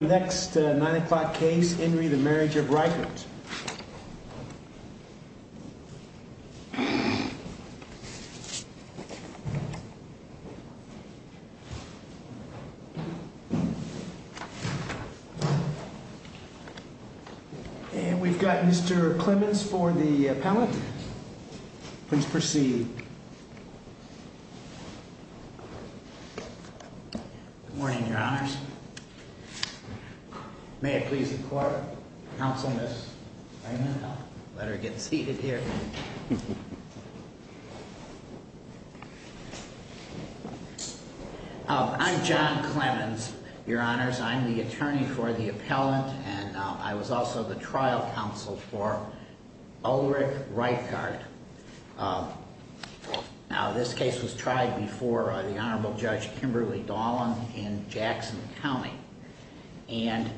Next 9 o'clock case in re the Marriage of Reichard And we've got Mr Clemens for the appellate Please proceed Good morning, your honors May it please the court, counsel, Ms. Feynman Let her get seated here I'm John Clemens, your honors I'm the attorney for the appellant And I was also the trial counsel for Ulrich Reichard Now this case was tried before the Honorable Judge Kimberly Dahlin in Jackson County And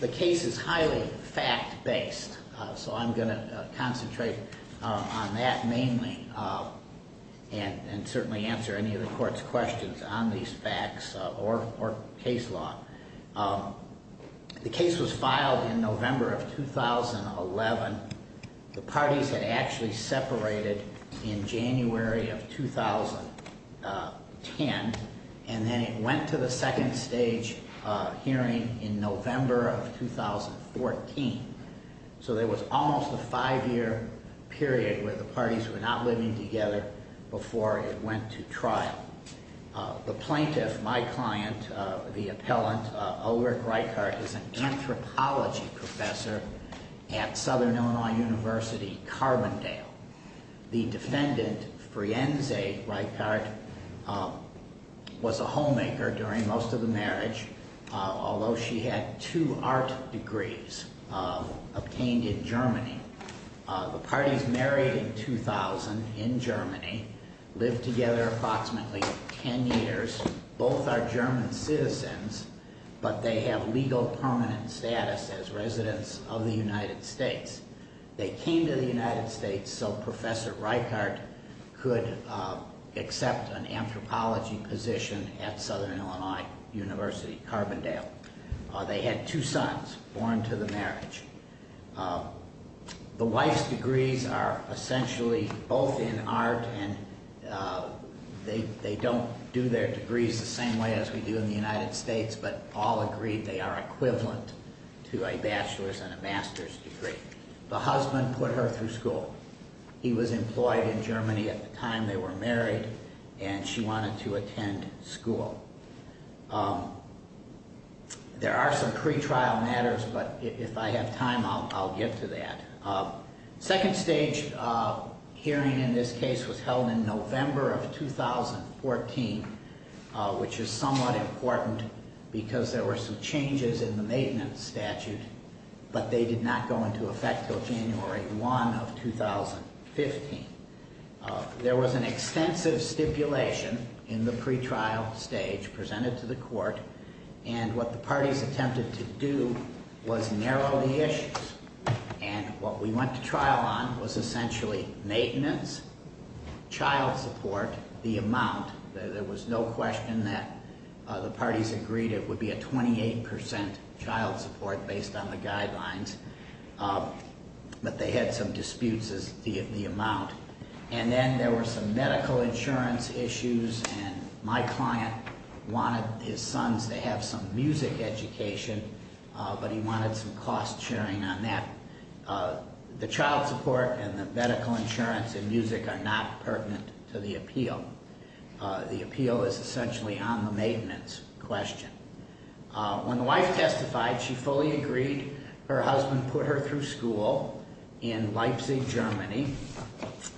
the case is highly fact-based So I'm going to concentrate on that mainly And certainly answer any of the court's questions on these facts or case law The case was filed in November of 2011 The parties had actually separated in January of 2010 And then it went to the second stage hearing in November of 2014 So there was almost a five year period where the parties were not living together before it went to trial The plaintiff, my client, the appellant, Ulrich Reichard Is an anthropology professor at Southern Illinois University, Carbondale The defendant, Frienze Reichard, was a homemaker during most of the marriage Although she had two art degrees obtained in Germany The parties married in 2000 in Germany Lived together approximately ten years Both are German citizens, but they have legal permanent status as residents of the United States They came to the United States so Professor Reichard could accept an anthropology position at Southern Illinois University, Carbondale They had two sons born to the marriage The wife's degrees are essentially both in art and They don't do their degrees the same way as we do in the United States But all agree they are equivalent to a bachelor's and a master's degree The husband put her through school He was employed in Germany at the time they were married And she wanted to attend school There are some pre-trial matters, but if I have time I'll get to that Second stage hearing in this case was held in November of 2014 Which is somewhat important because there were some changes in the maintenance statute But they did not go into effect until January 1 of 2015 There was an extensive stipulation in the pre-trial stage presented to the court And what the parties attempted to do was narrow the issues And what we went to trial on was essentially maintenance, child support, the amount There was no question that the parties agreed it would be a 28% child support based on the guidelines But they had some disputes as to the amount And then there were some medical insurance issues And my client wanted his sons to have some music education But he wanted some cost sharing on that The child support and the medical insurance and music are not pertinent to the appeal The appeal is essentially on the maintenance question When the wife testified, she fully agreed Her husband put her through school in Leipzig, Germany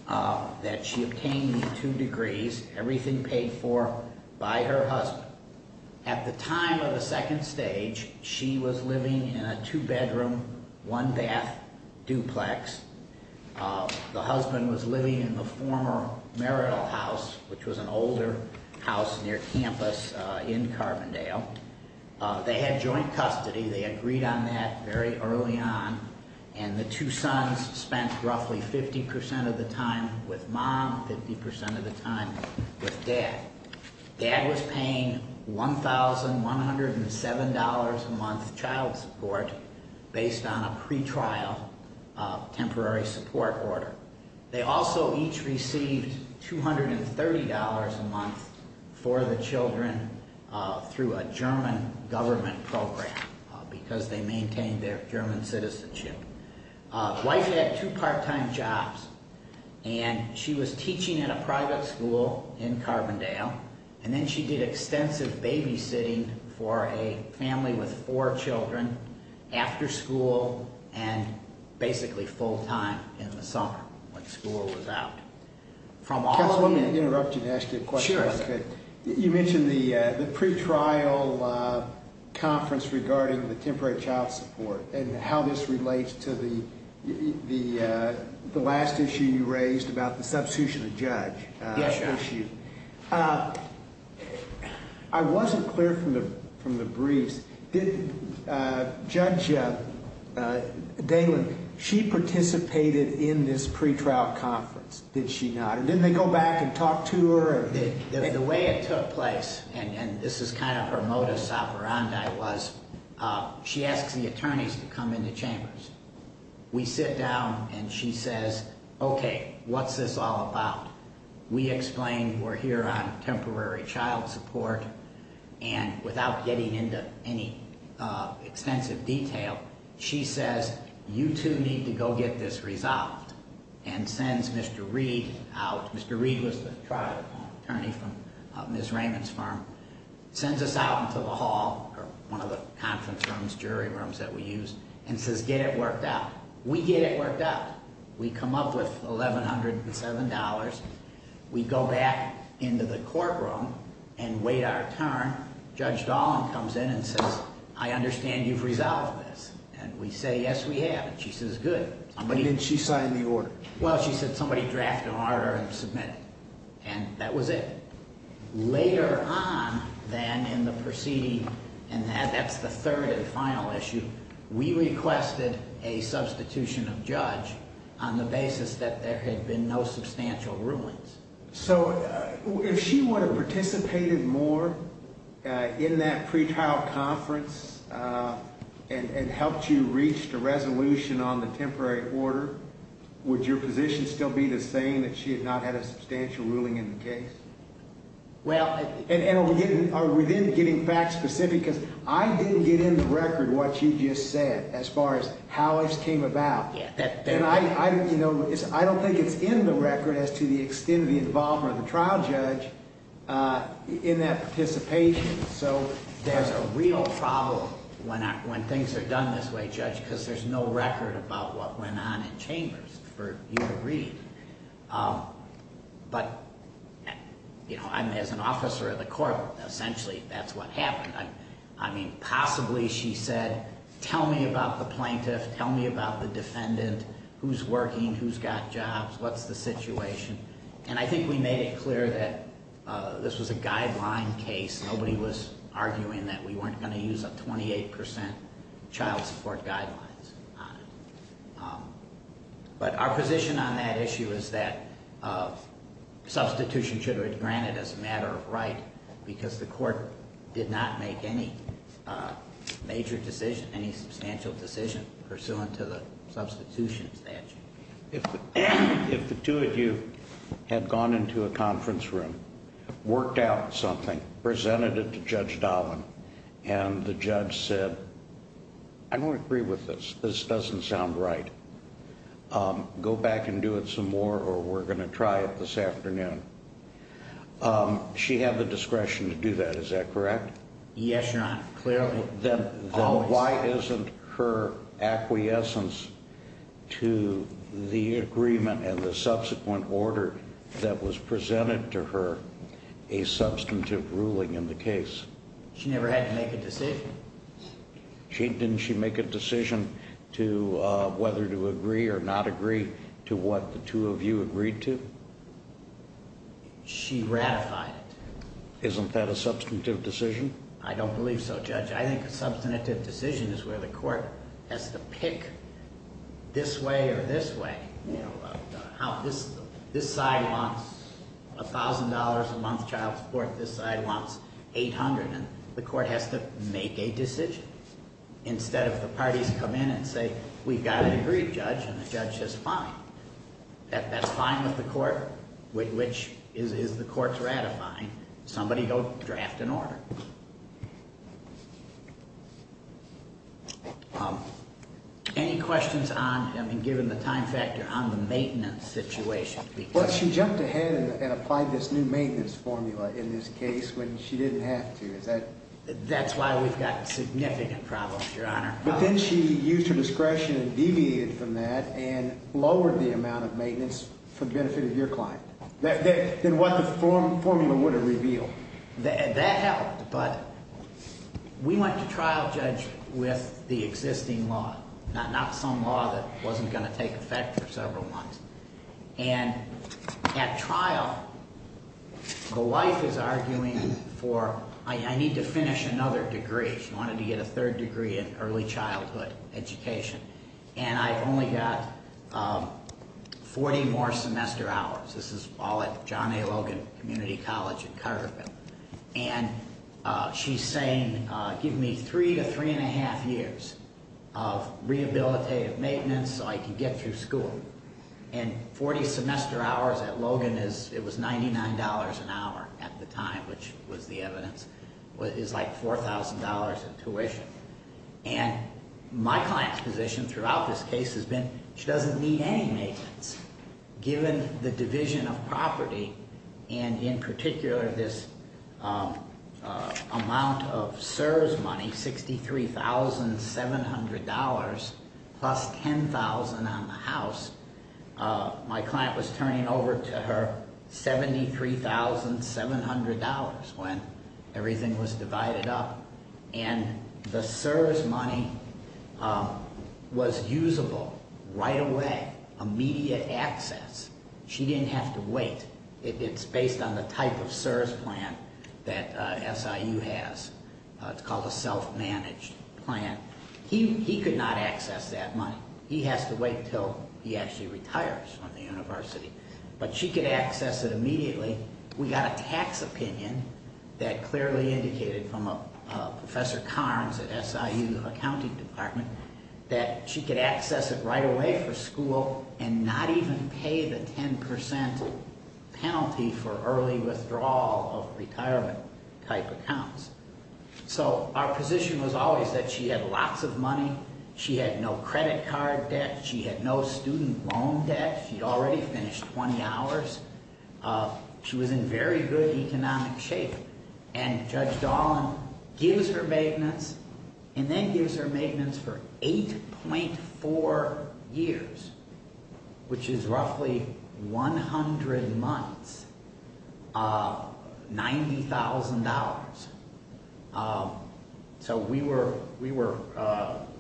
That she obtained two degrees, everything paid for by her husband At the time of the second stage, she was living in a two bedroom, one bath duplex The husband was living in the former marital house Which was an older house near campus in Carbondale They had joint custody, they agreed on that very early on And the two sons spent roughly 50% of the time with mom, 50% of the time with dad Dad was paying $1,107 a month child support based on a pre-trial temporary support order They also each received $230 a month for the children through a German government program Because they maintained their German citizenship The wife had two part time jobs And she was teaching in a private school in Carbondale And then she did extensive babysitting for a family with four children After school and basically full time in the summer when school was out Can I interrupt you to ask you a question? You mentioned the pre-trial conference regarding the temporary child support And how this relates to the last issue you raised about the substitution of judge I wasn't clear from the briefs Judge Daylin, she participated in this pre-trial conference, did she not? Didn't they go back and talk to her? The way it took place, and this is kind of her modus operandi She asks the attorneys to come into chambers We sit down and she says, okay, what's this all about? We explain we're here on temporary child support And without getting into any extensive detail She says, you two need to go get this resolved And sends Mr. Reed out Mr. Reed was the trial attorney from Ms. Raymond's firm Sends us out into the hall, one of the conference rooms, jury rooms that we use And says, get it worked out We get it worked out We come up with $1,107 We go back into the courtroom and wait our turn Judge Daylin comes in and says, I understand you've resolved this And we say, yes we have And she says, good But didn't she sign the order? Well, she said somebody drafted an order and submitted it And that was it Later on, then, in the proceeding And that's the third and final issue We requested a substitution of judge On the basis that there had been no substantial rulings So, if she would have participated more In that pretrial conference And helped you reach the resolution on the temporary order Would your position still be the same That she had not had a substantial ruling in the case? And within getting facts specific Because I didn't get in the record what she just said As far as how it came about And I don't think it's in the record As to the extent of the involvement of the trial judge In that participation So, there's a real problem when things are done this way, Judge Because there's no record about what went on in chambers But, you know, as an officer of the court Essentially, that's what happened I mean, possibly she said, tell me about the plaintiff Tell me about the defendant Who's working, who's got jobs, what's the situation And I think we made it clear that this was a guideline case Nobody was arguing that we weren't going to use A 28% child support guidelines But our position on that issue is that Substitution should have been granted as a matter of right Because the court did not make any Major decision, any substantial decision Pursuant to the substitution statute If the two of you had gone into a conference room Worked out something, presented it to Judge Dahlin And the judge said I don't agree with this, this doesn't sound right Go back and do it some more Or we're going to try it this afternoon She had the discretion to do that, is that correct? Yes, Your Honor, clearly Then why isn't her acquiescence to the agreement And the subsequent order that was presented to her A substantive ruling in the case? She never had to make a decision Didn't she make a decision to Whether to agree or not agree To what the two of you agreed to? She ratified it Isn't that a substantive decision? I don't believe so, Judge I think a substantive decision is where the court Has to pick this way or this way You know, this side wants $1,000 a month child support This side wants $800 The court has to make a decision Instead of the parties come in and say We've got it agreed, Judge And the judge says fine That's fine with the court Which is the court's ratifying Somebody go draft an order Any questions on, I mean, given the time factor On the maintenance situation? Well, she jumped ahead and applied This new maintenance formula in this case When she didn't have to, is that That's why we've got significant problems, Your Honor And deviated from that And lowered the amount of maintenance For the benefit of your client Than what the formula would have revealed That helped, but We went to trial, Judge With the existing law Not some law that wasn't going to take effect For several months And at trial The wife is arguing for I need to finish another degree She wanted to get a third degree In early childhood education And I've only got 40 more semester hours This is all at John A. Logan Community College in Carterville And she's saying Give me three to three and a half years Of rehabilitative maintenance So I can get through school And 40 semester hours at Logan It was $99 an hour at the time Which was the evidence Is like $4,000 in tuition And my client's position Throughout this case has been She doesn't need any maintenance Given the division of property And in particular this Amount of CSRS money $63,700 Plus $10,000 on the house My client was turning over to her $73,700 When everything was divided up And the CSRS money Was usable right away Immediate access She didn't have to wait It's based on the type of CSRS plan That SIU has It's called a self-managed plan He could not access that money He has to wait until he actually retires From the university But she could access it immediately We got a tax opinion That clearly indicated from Professor Carnes at SIU Accounting Department That she could access it Right away for school And not even pay the 10% penalty For early withdrawal Of retirement type accounts So our position was always That she had lots of money She had no credit card debt She had no student loan debt She already finished 20 hours She was in very good economic shape And Judge Dolan gives her maintenance And then gives her maintenance For 8.4 years Which is roughly 100 months $90,000 So we were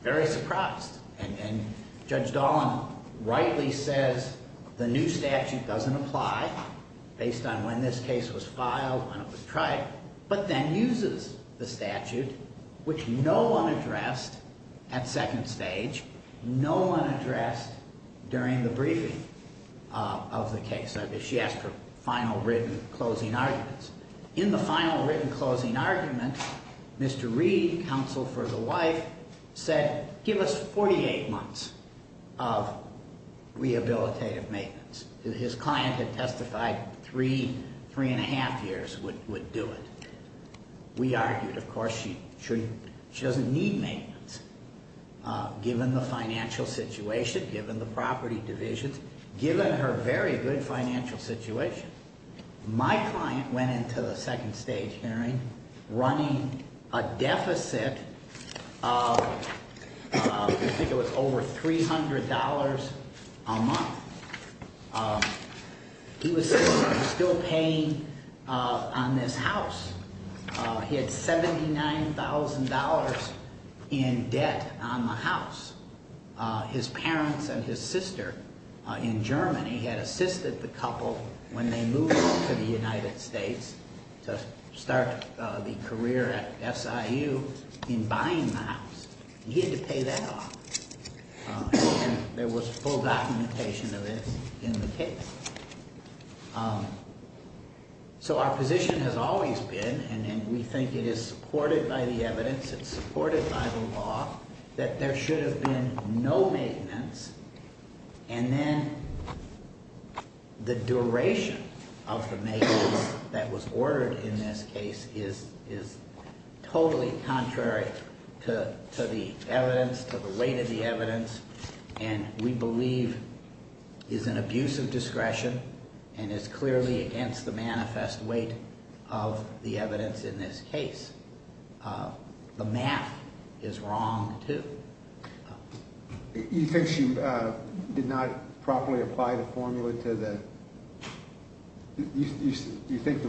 very surprised And Judge Dolan rightly says The new statute doesn't apply Based on when this case was filed When it was tried But then uses the statute Which no one addressed At second stage No one addressed During the briefing of the case She asked for final written Closing arguments In the final written Closing arguments Said give us 48 months Of rehabilitative maintenance His client had testified That three and a half years Would do it We argued of course She doesn't need maintenance Given the financial situation Given the property divisions Given her very good financial situation My client went into The second stage hearing Running a deficit Of I think it was over $300 A month He was still paying On this house He had $79,000 In debt on the house His parents and his sister In Germany had assisted the couple When they moved to the United States To start the career at SIU In buying the house He had to pay that off And there was full documentation Of this in the case So our position has always been And we think it is supported By the evidence It's supported by the law That there should have been No maintenance And then The duration of the maintenance That was ordered in this case Is totally contrary To the evidence To the weight of the evidence And we believe Is an abuse of discretion And is clearly against The manifest weight Of the evidence in this case The math is wrong too You think she did not Properly apply the formula to the You think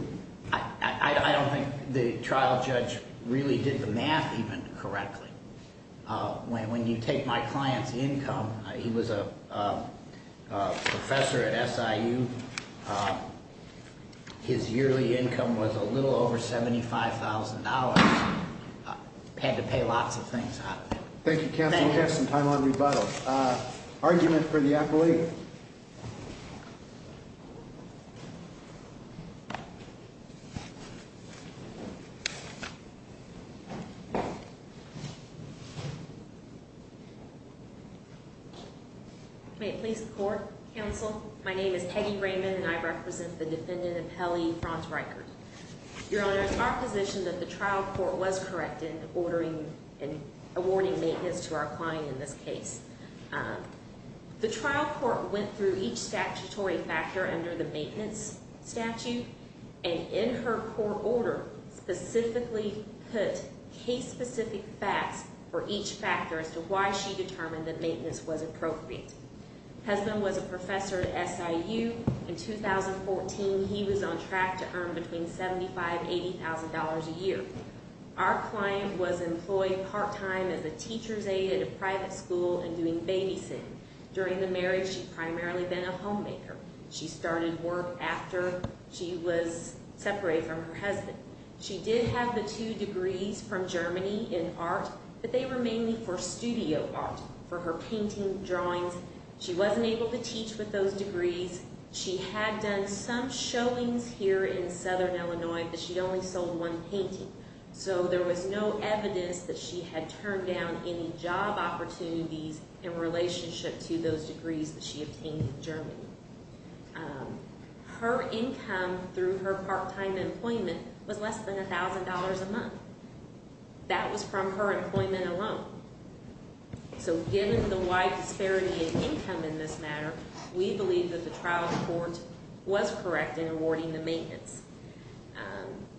I don't think the trial judge Really did the math even correctly When you take my client's income He was a professor at SIU His yearly income Was a little over $75,000 Had to pay lots of things off Thank you counsel We have some time on rebuttals Argument for the appellee May it please the court Counsel My name is Peggy Raymond And I represent the defendant Appellee Franz Reichert Your honor It's our position that the trial court Was correct in ordering And awarding maintenance To our client in this case The trial court went through Each statutory factor Under the maintenance statute And in her court order Specifically put case specific facts For each factor as to why She determined that Maintenance was appropriate Husband was a professor at SIU In 2014 he was on track To earn between $75,000 $80,000 a year Our client was employed part time As a teacher's aide At a private school And doing babysitting During the marriage She primarily been a homemaker She started work after She was separated from her husband She did have the two degrees From Germany in art But they were mainly for studio art For her painting, drawings She wasn't able to teach With those degrees She had done some showings Here in southern Illinois But she only sold one painting So there was no evidence That she had turned down Any job opportunities In relationship to those degrees That she obtained in Germany Her income through her Part time employment Was less than $1,000 a month That was from her employment alone So given the wide disparity In income in this matter We believe that the trial court Was correct in awarding The maintenance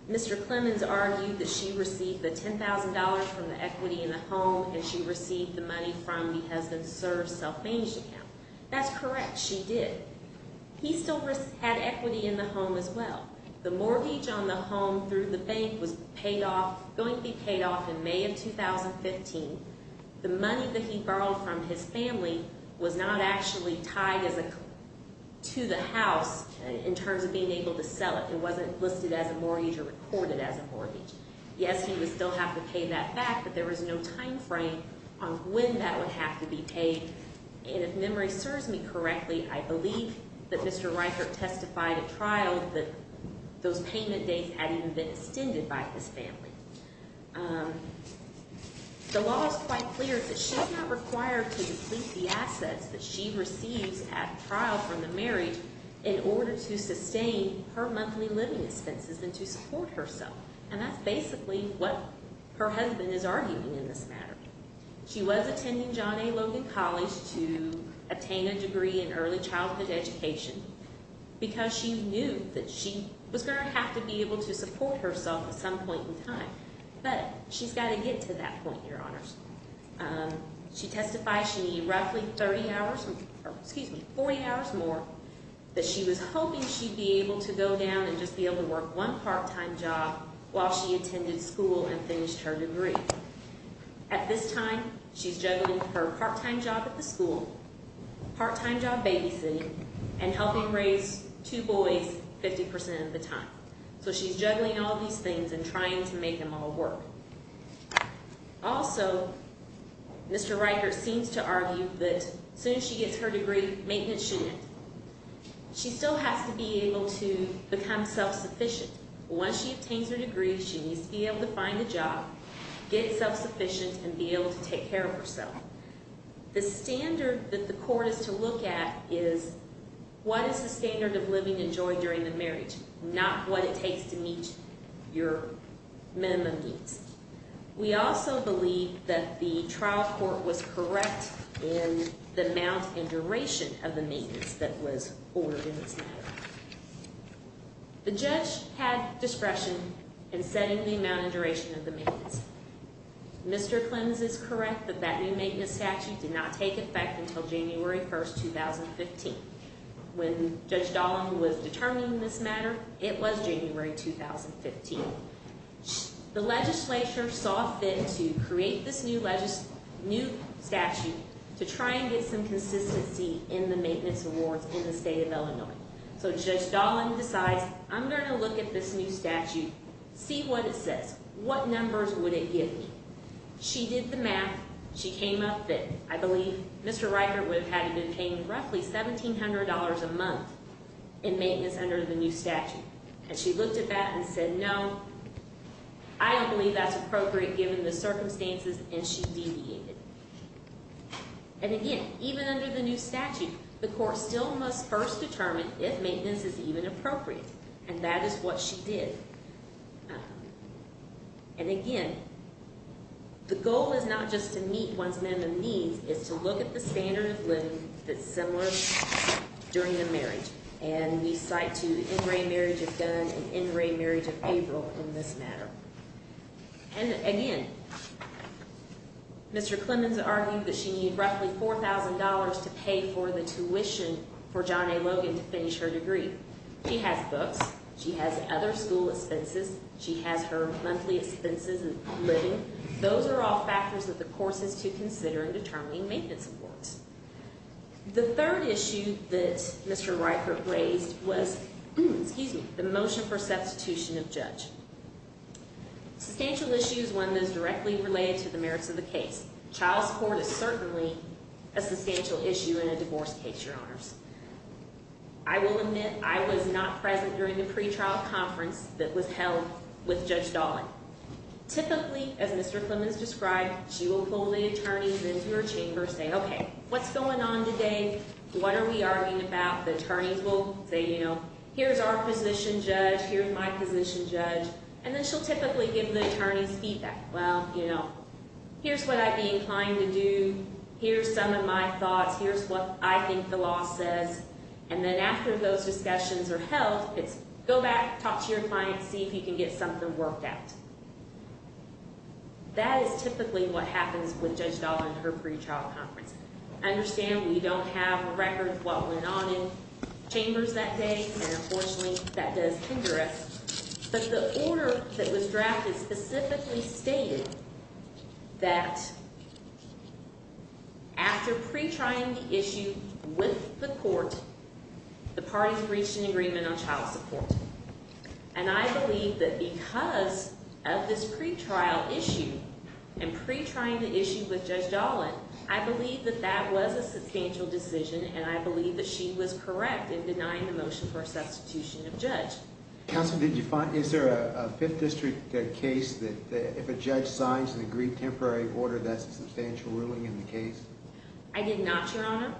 Mr. Clemons argued That she received the $10,000 From the equity in the home And she received the money From the husband's Served self-managed account That's correct, she did He still had equity In the home as well The mortgage on the home Through the bank Was going to be paid off In May of 2015 The money that he borrowed From his family Was not actually tied To the house In terms of being able to sell it It wasn't listed as a mortgage Or recorded as a mortgage Yes, he would still have To pay that back But there was no time frame On when that would have to be paid And if memory serves me correctly I believe that Mr. Reichert Testified at trial That those payment dates Had even been extended By his family The law is quite clear That she's not required To deplete the assets That she receives at trial From the marriage In order to sustain Her monthly living expenses And to support herself And that's basically What her husband is arguing In this matter She was attending John A. Logan College To attain a degree In early childhood education Because she knew That she was going to have To be able to support herself At some point in time But she's got to get To that point, your honors She testified She needed roughly 30 hours Excuse me, 40 hours more That she was hoping She'd be able to go down And just be able to work One part-time job While she attended school And finished her degree At this time She's juggling her part-time job At the school Part-time job babysitting And helping raise two boys 50% of the time So she's juggling all these things And trying to make them all work Also Mr. Riker seems to argue That as soon as she gets her degree Maintenance student She still has to be able to Become self-sufficient Once she obtains her degree She needs to be able to find a job Get self-sufficient And be able to take care of herself The standard that the court Is to look at is What is the standard of living and joy During the marriage Not what it takes to meet Your minimum needs We also believe That the trial court was correct In the amount and duration Of the maintenance that was Ordered in this matter The judge had discretion In setting the amount and duration Of the maintenance Mr. Clems is correct That that new maintenance statute Did not take effect until January 1st 2015 When Judge Dahlin was determining This matter, it was January 2015 The legislature saw fit To create this new Statute to try and get Some consistency in the maintenance Awards in the state of Illinois So Judge Dahlin decides I'm going to look at this new statute See what it says What numbers would it give me She did the math She came up with I believe Mr. Riker would have had to Pay roughly $1,700 a month In maintenance under the new statute And she looked at that and said No I don't believe that's appropriate Given the circumstances And she deviated And again, even under the new statute The court still must first determine If maintenance is even appropriate And that is what she did And again The goal is not just to meet One's minimum needs It's to look at the standard of living That's similar during the marriage And we cite to N. Ray Marriage of Gunn And N. Ray Marriage of April in this matter And again Mr. Clems argued That she needed roughly $4,000 To pay for the tuition For John A. Logan to finish her degree She has books She has other school expenses She has her monthly expenses And living Those are all factors that the court has to consider In determining maintenance awards The third issue that Mr. Riker raised was Excuse me The motion for substitution of judge Substantial issue is one that is directly Child support is certainly A substantial issue in a divorce case Your honors I will admit I was not present during the pre-trial Conference that was held with Judge Dolan Typically as Mr. Clemens described She will pull the attorneys into her chamber And say okay what's going on today What are we arguing about The attorneys will say you know Here's our position judge Here's my position judge And then she'll typically give the attorneys feedback Well you know here's what I'd be inclined to do Here's some of my thoughts Here's what I think the law says And then after those discussions Are held it's go back Talk to your clients see if you can get something Worked out That is typically what happens With Judge Dolan at her pre-trial conference Understand we don't have Records of what went on in Chambers that day and unfortunately That does hinder us But the order that was drafted Specifically stated That After Pre-trying the issue With the court The parties reached an agreement on child support And I believe That because of this Pre-trial issue And pre-trying the issue with Judge Dolan I believe that that was a Substantial decision and I believe that she Was correct in denying the motion for Substitution of judge Is there a 5th district Case that if a judge Assigns an agreed temporary order That's a substantial ruling in the case I did not your honor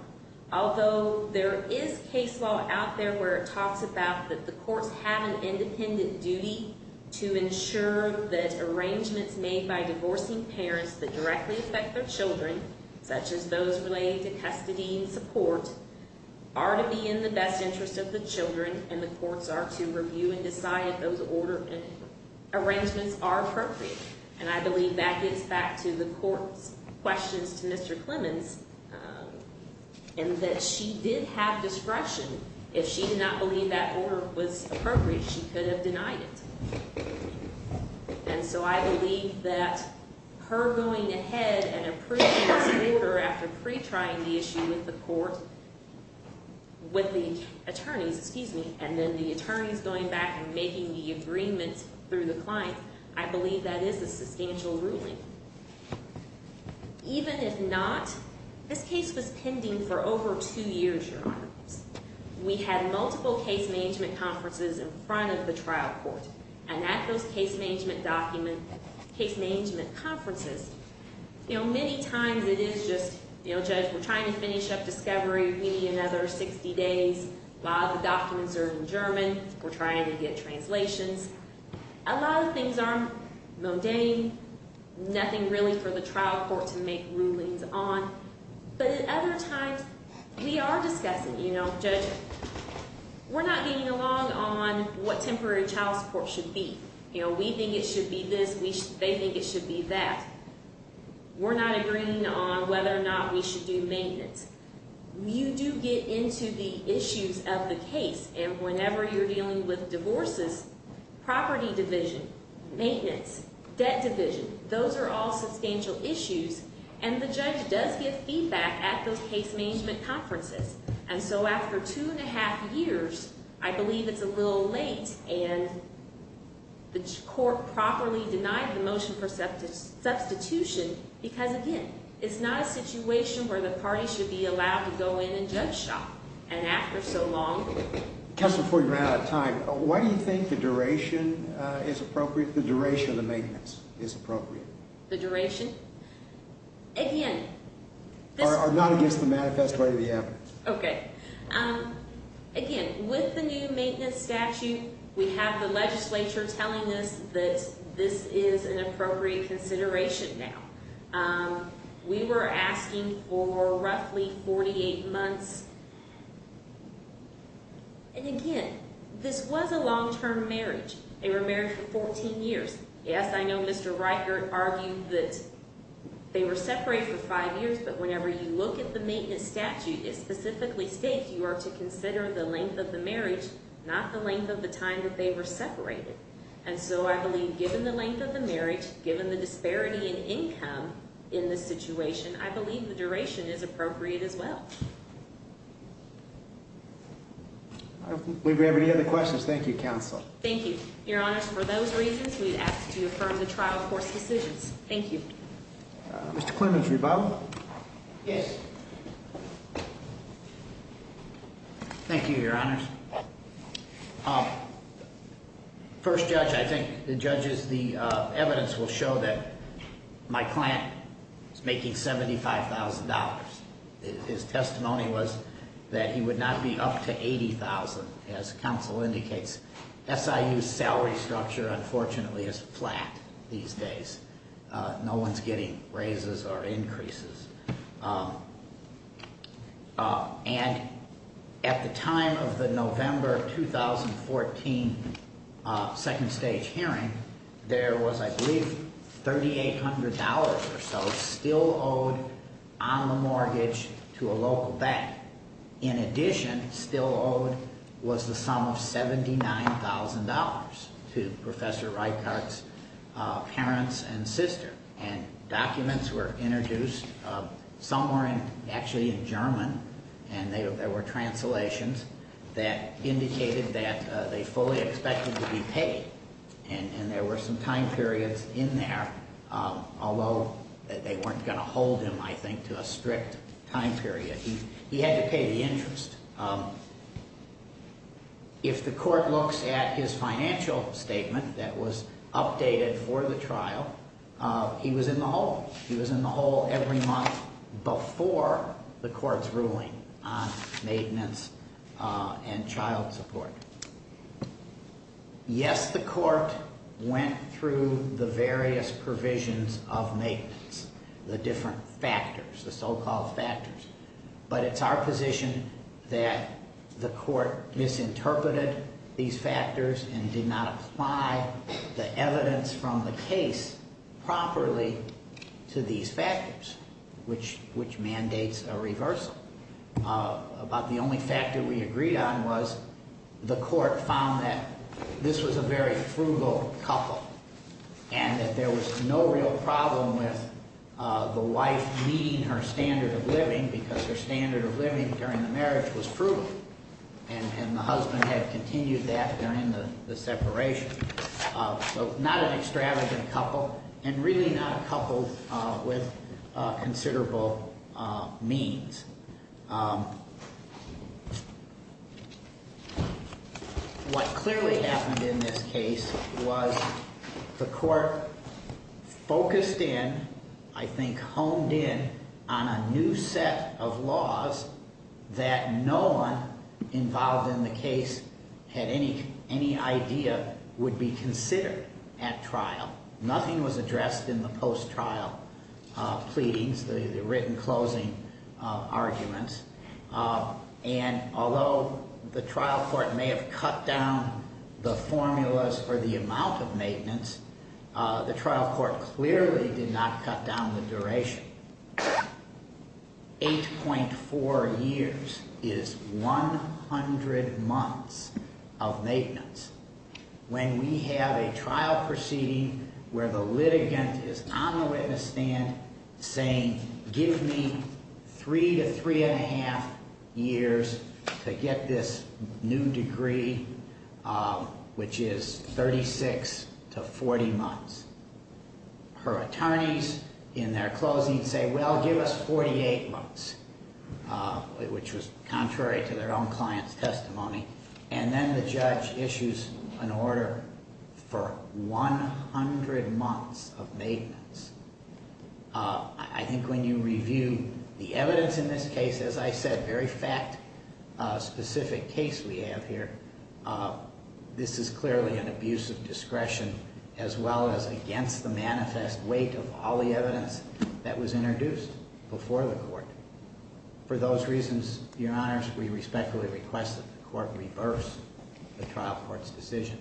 Although there is case law Out there where it talks about that the Courts have an independent duty To ensure that Arrangements made by divorcing Parents that directly affect their children Such as those related to Custody and support Are to be in the best interest of the children And the courts are to review And decide if those Order Arrangements are appropriate And I believe that gets back to the court Questions to Mr. Clemons And that she Did have discretion If she did not believe that order was Appropriate she could have denied it And so I Believe that her Going ahead and Pre-trying the issue With the court With the attorneys And then the attorneys Going back and making the agreements Through the client I believe that is A substantial ruling Even if not This case was pending for Over two years your honor We had multiple case management Conferences in front of the trial court And at those case management Document case management Conferences you know many Times it is just you know judge We're trying to finish up discovery we need Another 60 days Documents are in German Trying to get translations A lot of things are mundane Nothing really for The trial court to make rulings on But at other times We are discussing you know Judge we're not getting Along on what temporary child Support should be you know we think it Should be this they think it should be That we're not Agreeing on whether or not we should do Maintenance you do Get into the issues of the Case and whenever you're dealing with Divorces property Division maintenance Debt division those are all substantial Issues and the judge Does get feedback at those case management Conferences and so after Two and a half years I believe It's a little late and The court Properly denied the motion for Substitution because again It's not a situation where the party Should be allowed to go in and judge shop And after so long Just before you run out of time Why do you think the duration is Appropriate the duration of the maintenance Is appropriate the duration Again Are not against the manifest way The evidence okay Again with the new maintenance Statute we have the legislature Telling us that this Is an appropriate consideration Now we Were asking for roughly 48 months And Again this was a long term Marriage they were married for 14 Years yes I know Mr. Riker argued that They were separated for five years but whenever You look at the maintenance statute is Specifically states you are to consider The length of the marriage not the length Of the time that they were separated And so I believe given the length of The marriage given the disparity in Income in this situation I believe the duration is appropriate as Well We Have any other questions thank you counsel Thank you your honors for those reasons We ask to affirm the trial course decisions Thank you Mr. Clemens rebuttal Yes Thank you Your honors First judge I think the judges the Evidence will show that My client is making $75,000 His testimony was that he Would not be up to 80,000 As counsel indicates SIU salary structure unfortunately Is flat these days No one is getting Raises or increases And At the time Of the November 2014 Second stage hearing There was I believe $3,800 or so Still owed on the mortgage To a local bank In addition still owed Was the sum of $79,000 To professor Reichardt's Parents and sister And documents were introduced Somewhere in actually in German And there were Translations that Indicated that they fully expected To be paid and There were some time periods in there Although They weren't going to hold him I think to a Strict time period He had to pay the interest If the court Looks at his financial Statement that was updated For the trial He was in the hole Every month before The court's ruling On maintenance And child support Yes the court Went through the various Provisions of maintenance The different factors The so called factors But it's our position that The court misinterpreted These factors and did not Apply the evidence From the case properly To these factors Which mandates A reversal About the only factor we agreed on was The court found that This was a very frugal Couple and that there Was no real problem with The wife meeting her Standard of living because her standard of Living during the marriage was frugal And the husband had Continued that during the separation So not an Extravagant couple and really not A couple with Considerable means What clearly Happened in this case was The court Focused in I think honed in On a new set of laws That no one Involved in the case Had any idea Would be considered at trial Nothing was addressed in the post-trial Pleadings The written closing Arguments And although the trial Court may have cut down The formulas for the amount of Maintenance the trial Court clearly did not cut down The duration 8.4 Years is 100 months Of maintenance When we have a trial Proceeding where the litigant Is on the witness stand Saying give me Three to three and a half Years to get This new degree Which is 36 to 40 months Her attorneys In their closing say Well give us 48 months Which was contrary To their own client's testimony And then the judge Issues an order For 100 months Of maintenance I think when you review The evidence in this case As I said very fact Specific case we have here This is clearly An abuse of discretion As well as against the manifest Weight of all the evidence That was introduced before the court For those reasons Your honors we respectfully request That the court reverse The trial court's decision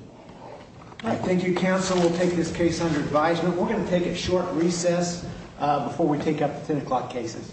Thank you counsel we'll take this case Under advisement we're going to take a short Recess before we take up The 10 o'clock cases